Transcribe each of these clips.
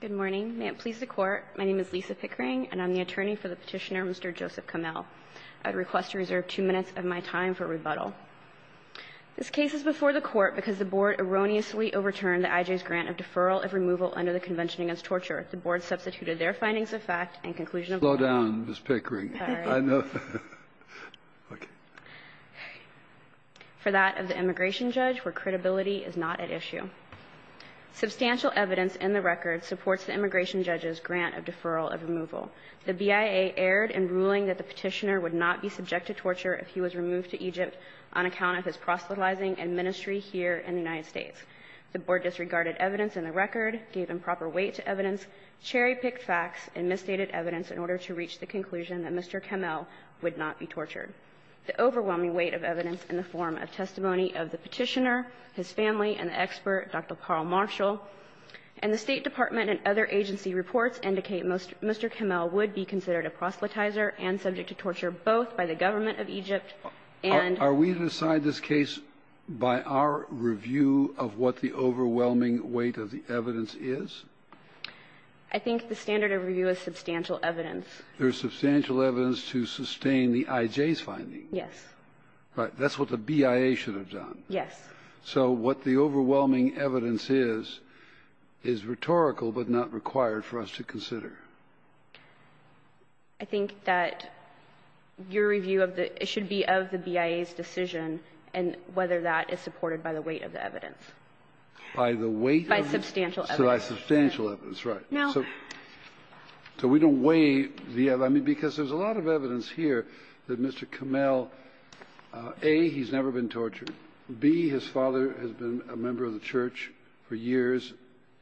Good morning. May it please the Court, my name is Lisa Pickering and I'm the attorney for the petitioner, Mr. Joseph Kamel. I'd request to reserve two minutes of my time for rebuttal. This case is before the Court because the Board erroneously overturned the IJ's grant of deferral of removal under the Convention Against Torture. The Board substituted their findings of fact and conclusion of— Slow down, Ms. Pickering. Sorry. I know. For that of the immigration judge, where credibility is not at issue. Substantial evidence in the record supports the immigration judge's grant of deferral of removal. The BIA erred in ruling that the petitioner would not be subject to torture if he was removed to Egypt on account of his proselytizing and ministry here in the United States. The Board disregarded evidence in the record, gave improper weight to evidence, cherry-picked facts, and misstated evidence in order to reach the conclusion that Mr. Kamel would not be tortured. The overwhelming weight of evidence in the form of testimony of the petitioner, his family, and the expert, Dr. Paul Marshall, and the State Department and other agency reports indicate Mr. Kamel would be considered a proselytizer and subject to torture both by the government of Egypt and— Are we to decide this case by our review of what the overwhelming weight of the evidence is? I think the standard of review is substantial evidence. There is substantial evidence to sustain the IJ's finding. Yes. Right. That's what the BIA should have done. Yes. So what the overwhelming evidence is, is rhetorical but not required for us to consider. I think that your review of the – it should be of the BIA's decision and whether that is supported by the weight of the evidence. By the weight of the evidence? By substantial evidence. By substantial evidence, right. No. So we don't weigh the evidence. I mean, because there's a lot of evidence here that Mr. Kamel, A, he's never been tortured. B, his father has been a member of the Church for years,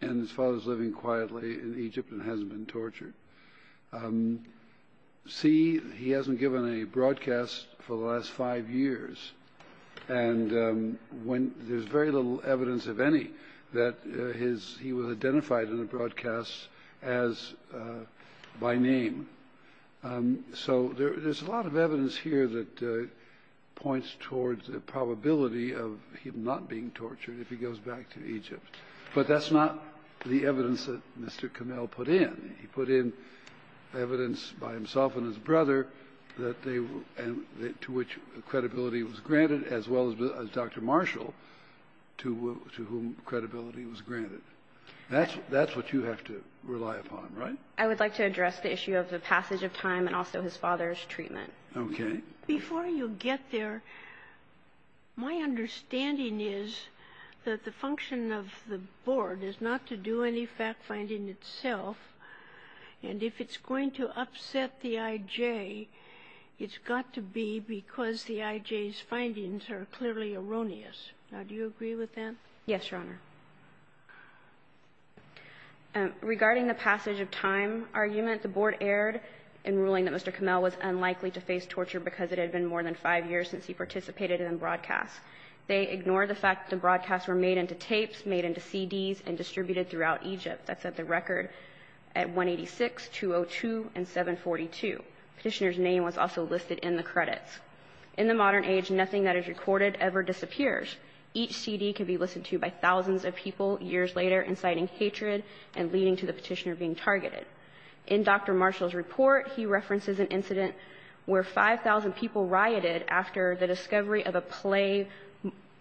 and his father is living quietly in Egypt and hasn't been tortured. C, he hasn't given a broadcast for the last five years. And when – there's very little evidence of any that his – he was identified in the broadcast as by name. So there's a lot of evidence here that points towards the probability of him not being tortured if he goes back to Egypt. But that's not the evidence that Mr. Kamel put in. He put in evidence by himself and his brother that they – to which credibility was granted, as well as Dr. Marshall, to whom credibility was granted. That's what you have to rely upon, right? I would like to address the issue of the passage of time and also his father's treatment. Okay. Before you get there, my understanding is that the function of the board is not to do any fact-finding itself, and if it's going to upset the I.J., it's got to be because the I.J.'s findings are clearly erroneous. Now, do you agree with that? Yes, Your Honor. Regarding the passage of time argument, the board erred in ruling that Mr. Kamel was unlikely to face torture because it had been more than five years since he participated in broadcasts. They ignored the fact that the broadcasts were made into tapes, made into CDs, and distributed throughout Egypt. That's at the record at 186, 202, and 742. Petitioner's name was also listed in the credits. In the modern age, nothing that is recorded ever disappears. Each CD can be listened to by thousands of people years later, inciting hatred and leading to the petitioner being targeted. In Dr. Marshall's report, he references an incident where 5,000 people rioted after the discovery of a play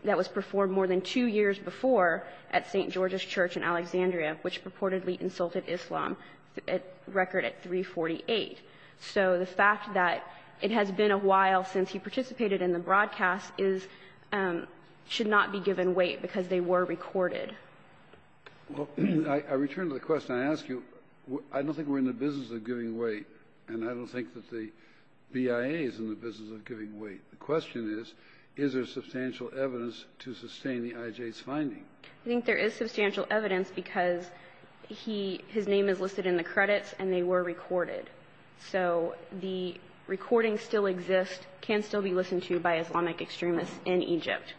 that was performed more than two years before at St. George's Church in Alexandria, which purportedly insulted Islam, at record at 348. So the fact that it has been a while since he participated in the broadcasts is – should not be given weight because they were recorded. Well, I return to the question I asked you. I don't think we're in the business of giving weight, and I don't think that the BIA is in the business of giving weight. The question is, is there substantial evidence to sustain the IJ's finding? I think there is substantial evidence because he – his name is listed in the credits and they were recorded. So the recordings still exist, can still be listened to by Islamic extremists in Egypt.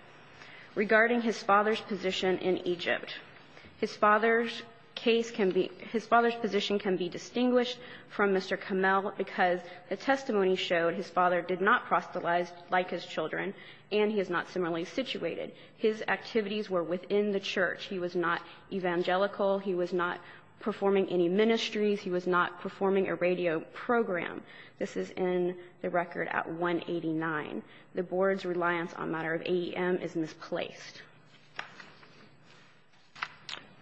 Regarding his father's position in Egypt, his father's case can be – his father's position can be distinguished from Mr. Kamel because the testimony showed his father did not proselytize like his children and he is not similarly situated. His activities were within the church. He was not evangelical. He was not performing any ministries. He was not performing a radio program. This is in the record at 189. The Board's reliance on a matter of AEM is misplaced.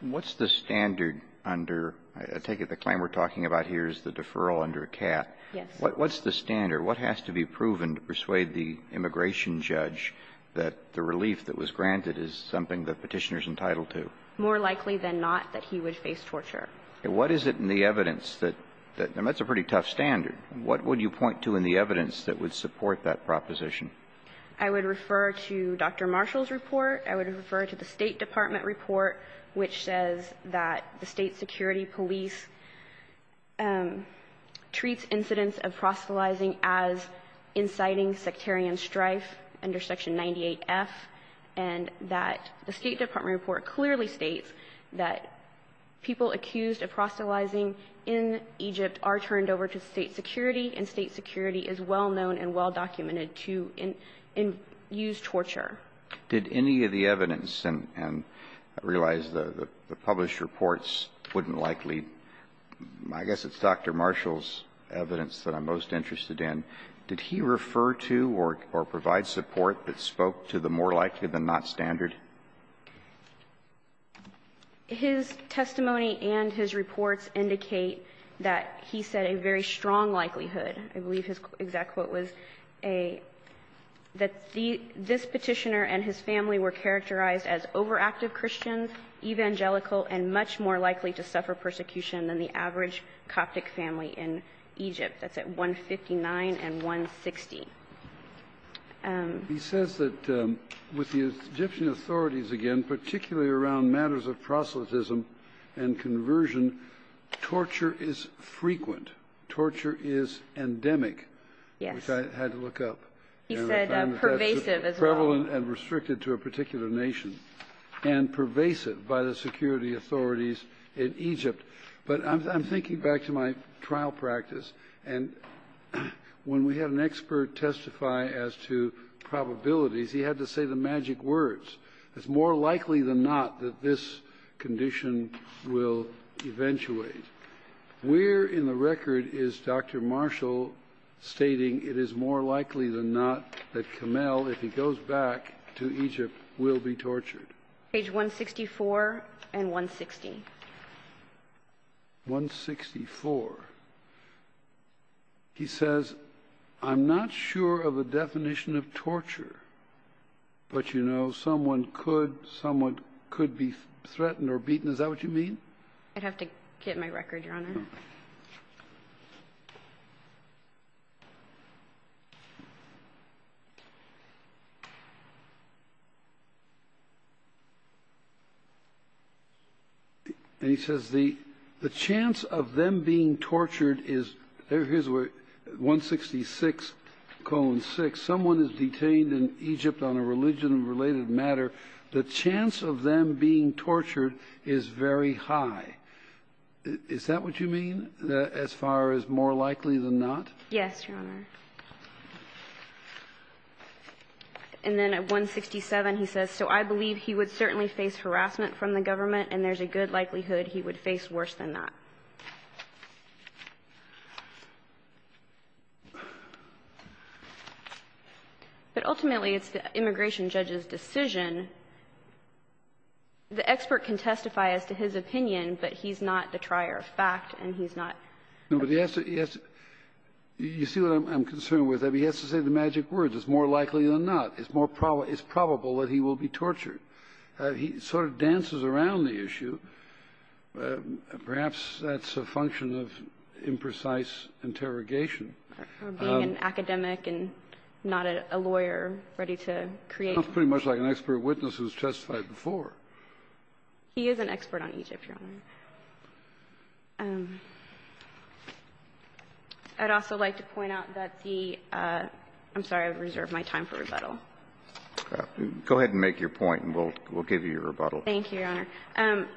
What's the standard under – I take it the claim we're talking about here is the deferral under CAT. What's the standard? What has to be proven to persuade the immigration judge that the relief that was granted is something the Petitioner's entitled to? More likely than not that he would face torture. What is it in the evidence that – and that's a pretty tough standard. What would you point to in the evidence that would support that proposition? I would refer to Dr. Marshall's report. I would refer to the State Department report, which says that the State security police treats incidents of proselytizing as inciting sectarian strife under Section 98F and that the State Department report clearly states that people accused of proselytizing in Egypt are turned over to State security and State security is well-known and well-documented to use torture. Did any of the evidence, and I realize the published reports wouldn't likely – I guess it's Dr. Marshall's evidence that I'm most interested in. Did he refer to or provide support that spoke to the more likely-than-not standard? His testimony and his reports indicate that he said a very strong likelihood. I believe his exact quote was a – that this Petitioner and his family were characterized as overactive Christians, evangelical, and much more likely to suffer persecution than the average Coptic family in Egypt. That's at 159 and 160. He says that with the Egyptian authorities, again, particularly around matters of proselytism and conversion, torture is frequent, torture is endemic, which I had to look up. Yes. He said pervasive as well. Prevalent and restricted to a particular nation, and pervasive by the security authorities in Egypt. But I'm thinking back to my trial practice, and when we had an expert testify as to probabilities, he had to say the magic words. It's more likely than not that this condition will eventuate. Where in the record is Dr. Marshall stating it is more likely than not that Kamel, if he goes back to Egypt, will be tortured? Page 164 and 160. 164. He says, I'm not sure of a definition of torture, but someone could be threatened or beaten. Is that what you mean? I'd have to get my record, Your Honor. And he says, the chance of them being tortured is, here's where, 166, colon 6. Someone is detained in Egypt on a religion-related matter. The chance of them being tortured is very high. Is that what you mean, as far as more likely than not? Yes, Your Honor. And then at 167, he says, so I believe he would certainly face harassment from the government, and there's a good likelihood he would face worse than that. But ultimately, it's the immigration judge's decision. The expert can testify as to his opinion, but he's not the trier of fact, and he's not the expert. No, but he has to – you see what I'm concerned with? He has to say the magic words. It's more likely than not. It's more probable that he will be tortured. He sort of dances around the issue. Perhaps that's a function of imprecise interrogation. Or being an academic and not a lawyer ready to create. It sounds pretty much like an expert witness who's testified before. He is an expert on Egypt, Your Honor. I'd also like to point out that the – I'm sorry. I've reserved my time for rebuttal. Go ahead and make your point, and we'll give you your rebuttal. Thank you, Your Honor.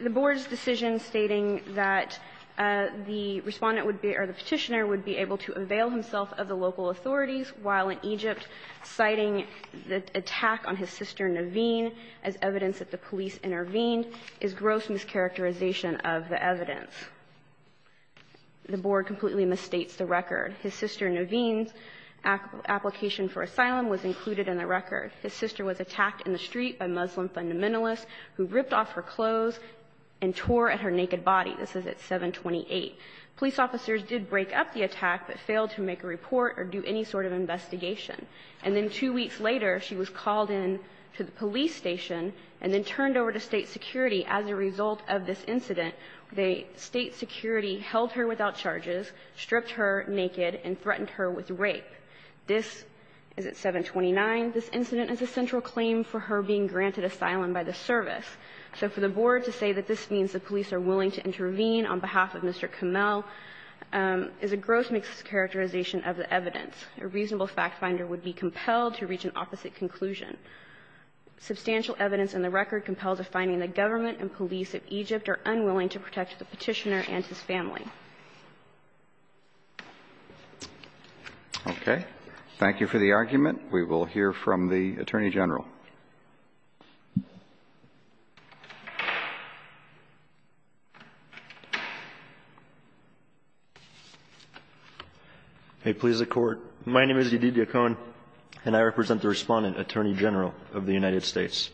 The Board's decision stating that the Respondent would be – or the Petitioner would be able to avail himself of the local authorities while in Egypt, citing the attack on his sister Naveen as evidence that the police intervened is gross mischaracterization of the evidence. The Board completely misstates the record. His sister Naveen's application for asylum was included in the record. His sister was attacked in the street by Muslim fundamentalists who ripped off her clothes and tore at her naked body. This is at 728. Police officers did break up the attack, but failed to make a report or do any sort of investigation. And then two weeks later, she was called in to the police station and then turned over to State security as a result of this incident. The State security held her without charges, stripped her naked, and threatened her with rape. This is at 729. This incident is a central claim for her being granted asylum by the service. So for the Board to say that this means the police are willing to intervene on behalf of Mr. Kamel is a gross mischaracterization of the evidence. A reasonable factfinder would be compelled to reach an opposite conclusion. Substantial evidence in the record compels a finding that government and police of Egypt are unwilling to protect the Petitioner and his family. Okay. Thank you for the argument. We will hear from the Attorney General. May it please the Court. My name is Edith Yacon, and I represent the Respondent, Attorney General of the United States.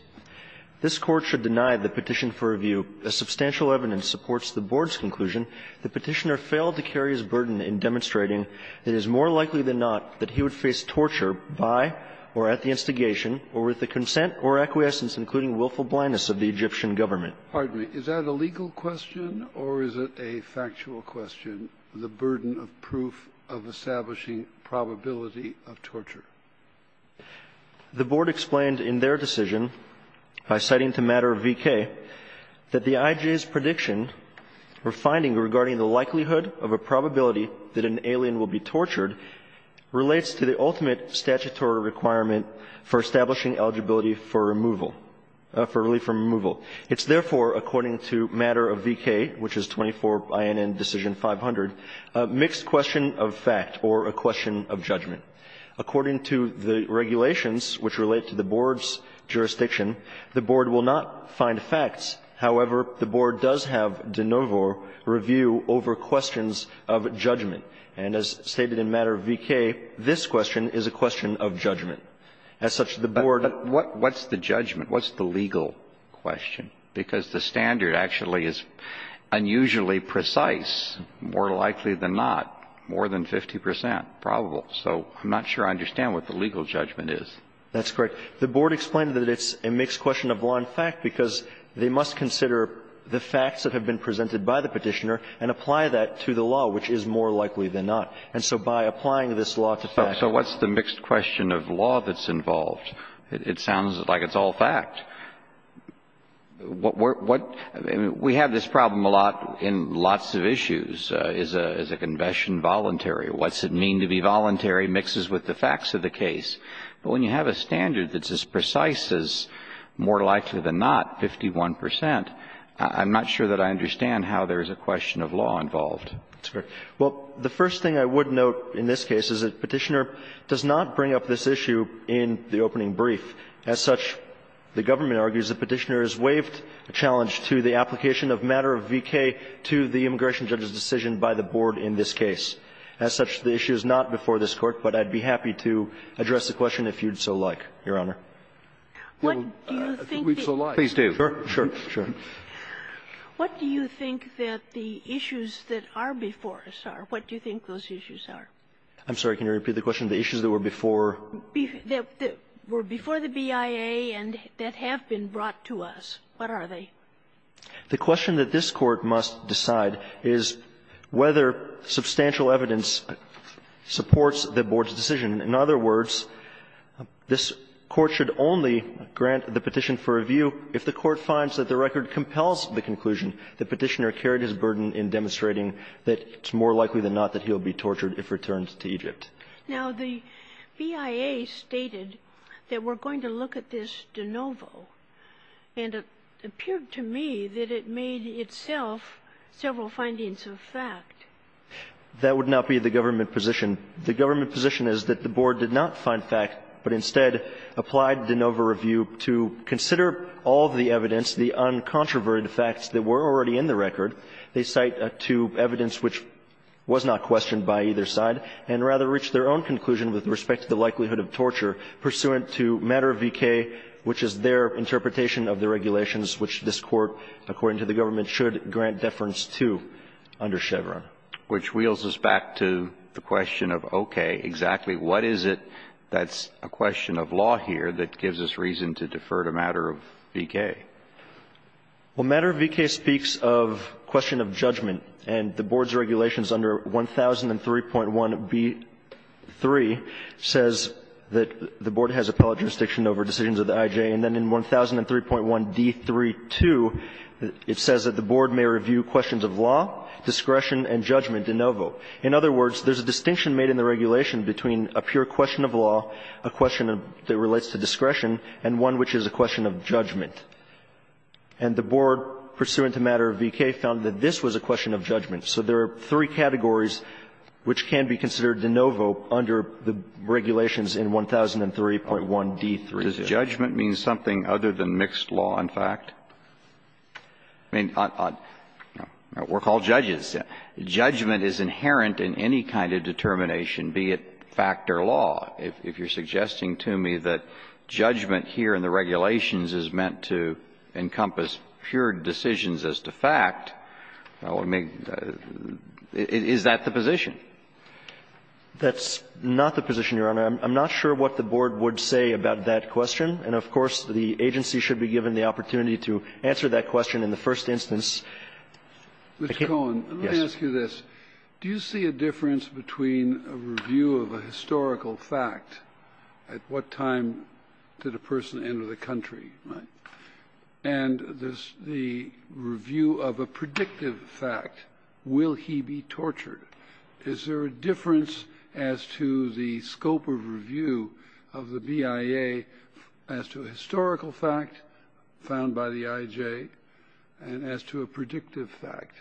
This Court should deny the petition for review. As substantial evidence supports the Board's conclusion, the Petitioner failed to carry his burden in demonstrating that it is more likely than not that he would face torture by or at the instigation or with the consent or acquiescence, including willful blindness, of the Egyptian government. Pardon me. Is that a legal question or is it a factual question, the burden of proof of establishing probability of torture? The Board explained in their decision by citing the matter of V.K. that the I.J.'s prediction or finding regarding the likelihood of a probability that an alien will be tortured relates to the ultimate statutory requirement for establishing eligibility for removal, for relief from removal. It's therefore, according to matter of V.K., which is 24 INN decision 500, a mixed question of fact or a question of judgment. According to the regulations, which relate to the Board's jurisdiction, the Board will not find facts. However, the Board does have de novo review over questions of judgment. And as stated in matter of V.K., this question is a question of judgment. As such, the Board of the Court of Appeals has not found facts. But what's the judgment? What's the legal question? Because the standard actually is unusually precise, more likely than not, more than 50 percent probable. So I'm not sure I understand what the legal judgment is. That's correct. The Board explained that it's a mixed question of law and fact because they must consider the facts that have been presented by the Petitioner and apply that to the law, which is more likely than not. And so by applying this law to fact. So what's the mixed question of law that's involved? It sounds like it's all fact. We have this problem a lot in lots of issues. Is a confession voluntary? What's it mean to be voluntary mixes with the facts of the case? But when you have a standard that's as precise as more likely than not, 51 percent, I'm not sure that I understand how there is a question of law involved. That's correct. Well, the first thing I would note in this case is that Petitioner does not bring up this issue in the opening brief. As such, the government argues that Petitioner has waived a challenge to the application of matter of V.K. to the immigration judge's decision by the Board in this case. As such, the issue is not before this Court. But I'd be happy to address the question if you'd so like, Your Honor. We'd so like. Please do. Sure. Sure. What do you think that the issues that are before us are? What do you think those issues are? I'm sorry. Can you repeat the question? The issues that were before? That were before the BIA and that have been brought to us. What are they? The question that this Court must decide is whether substantial evidence supports the Board's decision. In other words, this Court should only grant the petition for review if the Court finds that the record compels the conclusion that Petitioner carried his burden in demonstrating that it's more likely than not that he'll be tortured if returned to Egypt. Now, the BIA stated that we're going to look at this de novo. And it appeared to me that it made itself several findings of fact. That would not be the government position. The government position is that the Board did not find fact, but instead applied de novo review to consider all the evidence, the uncontroverted facts that were already in the record. They cite two evidence which was not questioned by either side, and rather reached their own conclusion with respect to the likelihood of torture pursuant to matter of V.K., which is their interpretation of the regulations which this Court, according to the government, should grant deference to under Chevron. Which wheels us back to the question of, okay, exactly what is it that's a question of law here that gives us reason to defer to matter of V.K.? Well, matter of V.K. speaks of question of judgment. And the Board's regulations under 1003.1b3 says that the Board has appellate jurisdiction over decisions of the I.J. And then in 1003.1d32, it says that the Board may review questions of law, discretion and judgment de novo. In other words, there's a distinction made in the regulation between a pure question of law, a question that relates to discretion, and one which is a question of judgment. And the Board, pursuant to matter of V.K., found that this was a question of judgment. So there are three categories which can be considered de novo under the regulations in 1003.1d32. Does judgment mean something other than mixed law and fact? I mean, we're called judges. Judgment is inherent in any kind of determination, be it fact or law. If you're suggesting to me that judgment here in the regulations is meant to encompass pure decisions as to fact, is that the position? That's not the position, Your Honor. I'm not sure what the Board would say about that question. And, of course, the agency should be given the opportunity to answer that question in the first instance. Mr. Cohen, let me ask you this. Do you see a difference between a review of a historical fact, at what time did a person enter the country, right, and the review of a predictive fact? Will he be tortured? Is there a difference as to the scope of review of the BIA as to a historical fact found by the IJ and as to a predictive fact?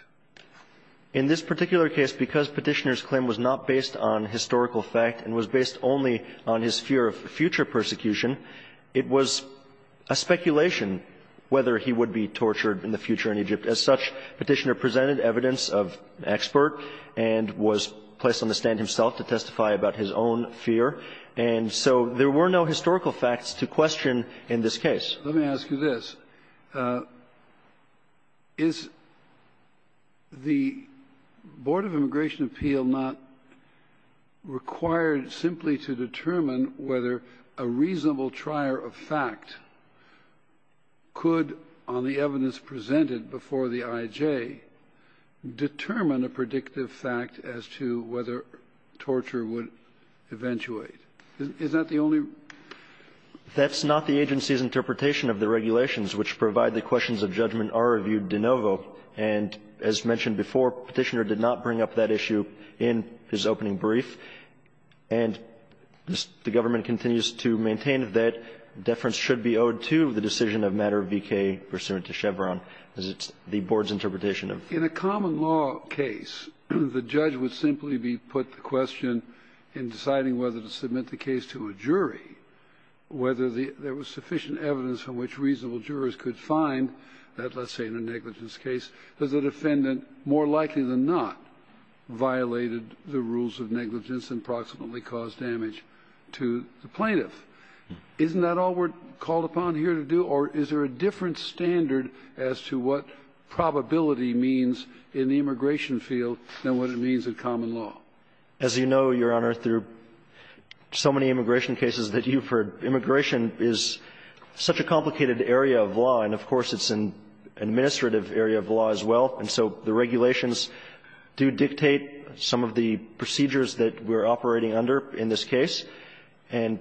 In this particular case, because Petitioner's claim was not based on historical fact and was based only on his fear of future persecution, it was a speculation whether he would be tortured in the future in Egypt. As such, Petitioner presented evidence of expert and was placed on the stand himself to testify about his own fear. And so there were no historical facts to question in this case. Let me ask you this. Is the Board of Immigration Appeal not required simply to determine whether a reasonable trier of fact could, on the evidence presented before the IJ, determine a predictive fact as to whether torture would eventuate? Is that the only ---- That's not the agency's interpretation of the regulations which provide the questions of judgment are reviewed de novo. And as mentioned before, Petitioner did not bring up that issue in his opening brief. And the government continues to maintain that deference should be owed to the decision of matter of V.K. pursuant to Chevron. Is it the Board's interpretation of ---- In a common law case, the judge would simply be put the question in deciding whether to submit the case to a jury, whether there was sufficient evidence from which reasonable jurors could find that, let's say in a negligence case, that the defendant more likely than not violated the rules of negligence and proximately caused damage to the plaintiff. Isn't that all we're called upon here to do? Or is there a different standard as to what probability means in the immigration field than what it means in common law? As you know, Your Honor, through so many immigration cases that you've heard, immigration is such a complicated area of law. And of course, it's an administrative area of law as well. And so the regulations do dictate some of the procedures that we're operating under in this case. And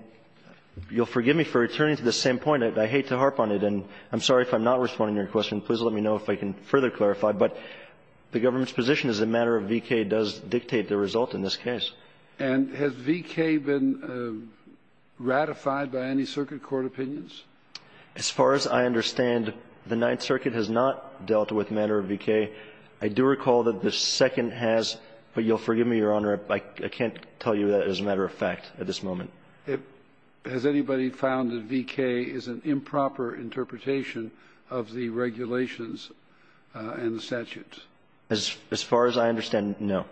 you'll forgive me for returning to the same point. I hate to harp on it. And I'm sorry if I'm not responding to your question. Please let me know if I can further clarify. But the government's position is that Manner of V.K. does dictate the result in this case. And has V.K. been ratified by any circuit court opinions? As far as I understand, the Ninth Circuit has not dealt with Manner of V.K. I do recall that the Second has, but you'll forgive me, Your Honor, I can't tell you that as a matter of fact at this moment. Has anybody found that V.K. is an improper interpretation of the regulations and the statutes? As far as I understand, no.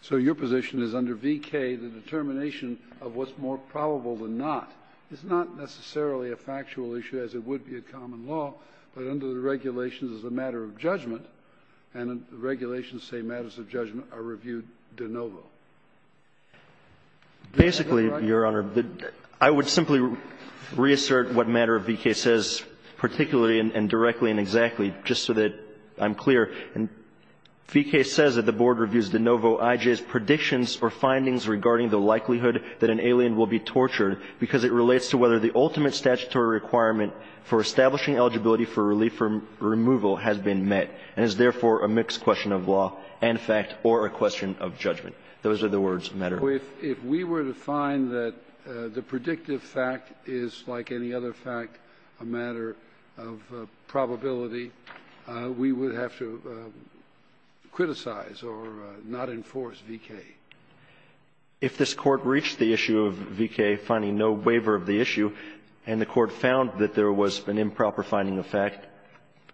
So your position is under V.K. the determination of what's more probable than not is not necessarily a factual issue, as it would be a common law, but under the regulations as a matter of judgment, and the regulations say matters of judgment are reviewed de novo. Basically, Your Honor, I would simply reassert what Manner of V.K. says, particularly and directly and exactly, just so that I'm clear. V.K. says that the Board reviews de novo I.J.'s predictions or findings regarding the likelihood that an alien will be tortured because it relates to whether the ultimate statutory requirement for establishing eligibility for relief from removal has been met and is therefore a mixed question of law and fact or a question of judgment. Those are the words of Manner of V.K. If this Court reached the issue of V.K. finding no waiver of the issue and the Court found that there was an improper finding of fact,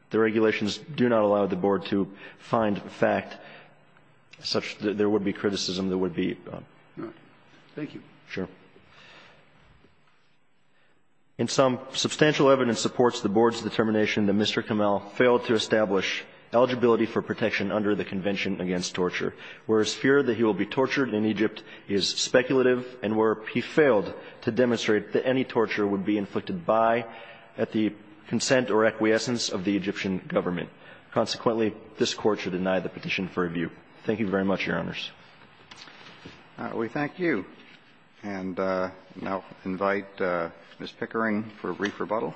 the regulations do not allow the Board to find fact such that there would be criticism that would be. Thank you. Sure. In sum, substantial evidence supports the Board's determination that Mr. Kamel failed to establish eligibility for protection under the Convention against Torture, whereas fear that he will be tortured in Egypt is speculative and where he failed to demonstrate that any torture would be inflicted by, at the consent or acquiescence of the Egyptian government. Consequently, this Court should deny the petition for review. Thank you very much, Your Honors. We thank you. And now invite Ms. Pickering for a brief rebuttal.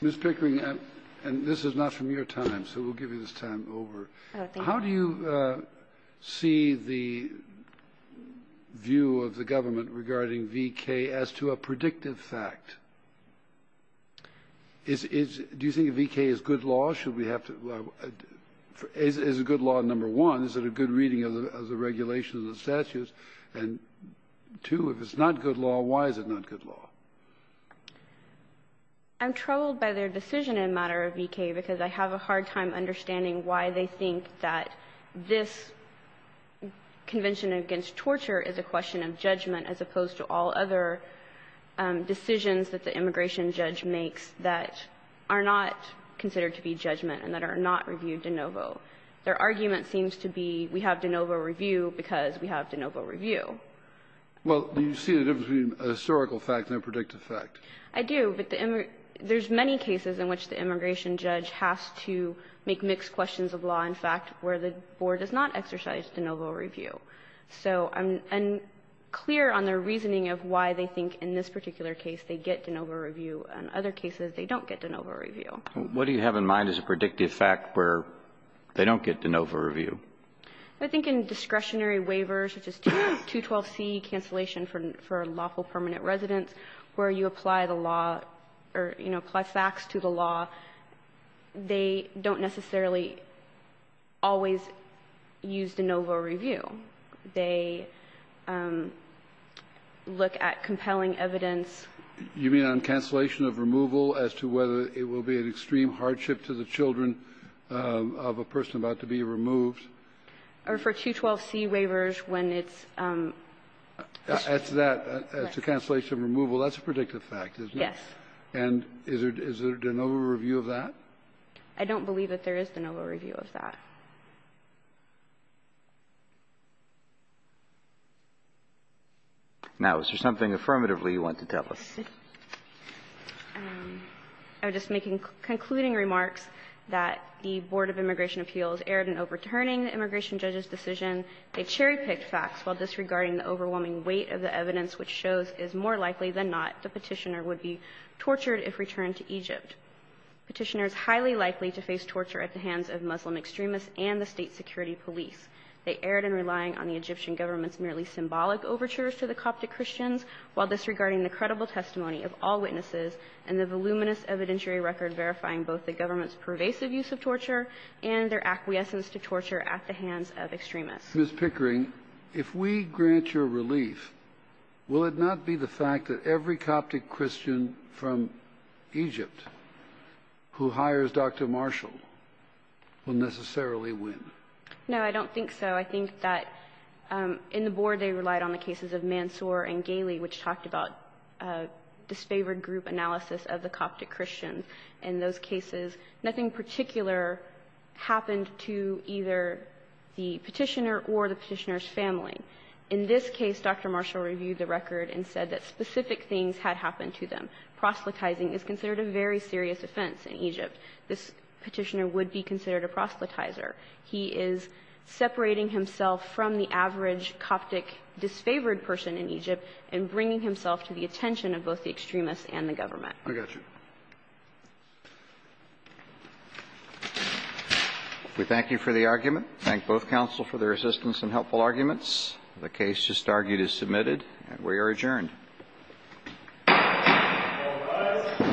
Ms. Pickering, and this is not from your time, so we'll give you this time over. Oh, thank you. How do you see the view of the government regarding V.K. as to a predictive fact? Do you think V.K. is good law? Is it good law, number one? Is it a good reading of the regulations and statutes? And two, if it's not good law, why is it not good law? I'm troubled by their decision in matter of V.K. because I have a hard time understanding why they think that this Convention against Torture is a question of judgment as opposed to all other decisions that the immigration judge makes that are not considered to be judgment and that are not reviewed de novo. Their argument seems to be we have de novo review because we have de novo review. Well, do you see the difference between a historical fact and a predictive fact? I do, but there's many cases in which the immigration judge has to make mixed questions of law and fact where the Board does not exercise de novo review. So I'm unclear on their reasoning of why they think in this particular case they get de novo review and other cases they don't get de novo review. What do you have in mind as a predictive fact where they don't get de novo review? I think in discretionary waivers, which is 212C, cancellation for lawful permanent residence, where you apply the law or, you know, apply facts to the law, they don't necessarily always use de novo review. They look at compelling evidence. You mean on cancellation of removal as to whether it will be an extreme hardship to the children of a person about to be removed? Or for 212C waivers when it's the cancellation of removal. That's a predictive fact, isn't it? Yes. And is there de novo review of that? I don't believe that there is de novo review of that. Now, is there something affirmatively you want to tell us? I'm just making concluding remarks that the Board of Immigration Appeals erred in overturning the immigration judge's decision. They cherry-picked facts while disregarding the overwhelming weight of the evidence which shows is more likely than not the Petitioner would be tortured if returned to Egypt. Petitioner is highly likely to face torture at the hands of Muslim extremists and the State Security Police. They erred in relying on the Egyptian government's merely symbolic overtures to the Coptic Christians, while disregarding the credible testimony of all witnesses and the voluminous evidentiary record verifying both the government's pervasive use of torture and their acquiescence to torture at the hands of extremists. Ms. Pickering, if we grant your relief, will it not be the fact that every Coptic No, I don't think so. I think that in the Board they relied on the cases of Mansour and Galey, which talked about disfavored group analysis of the Coptic Christians. In those cases, nothing particular happened to either the Petitioner or the Petitioner's family. In this case, Dr. Marshall reviewed the record and said that specific things had happened to them. Proselytizing is considered a very serious offense in Egypt. This Petitioner would be considered a proselytizer. He is separating himself from the average Coptic disfavored person in Egypt and bringing himself to the attention of both the extremists and the government. I got you. We thank you for the argument. Thank both counsel for their assistance and helpful arguments. The case just argued is submitted and we are adjourned. All rise.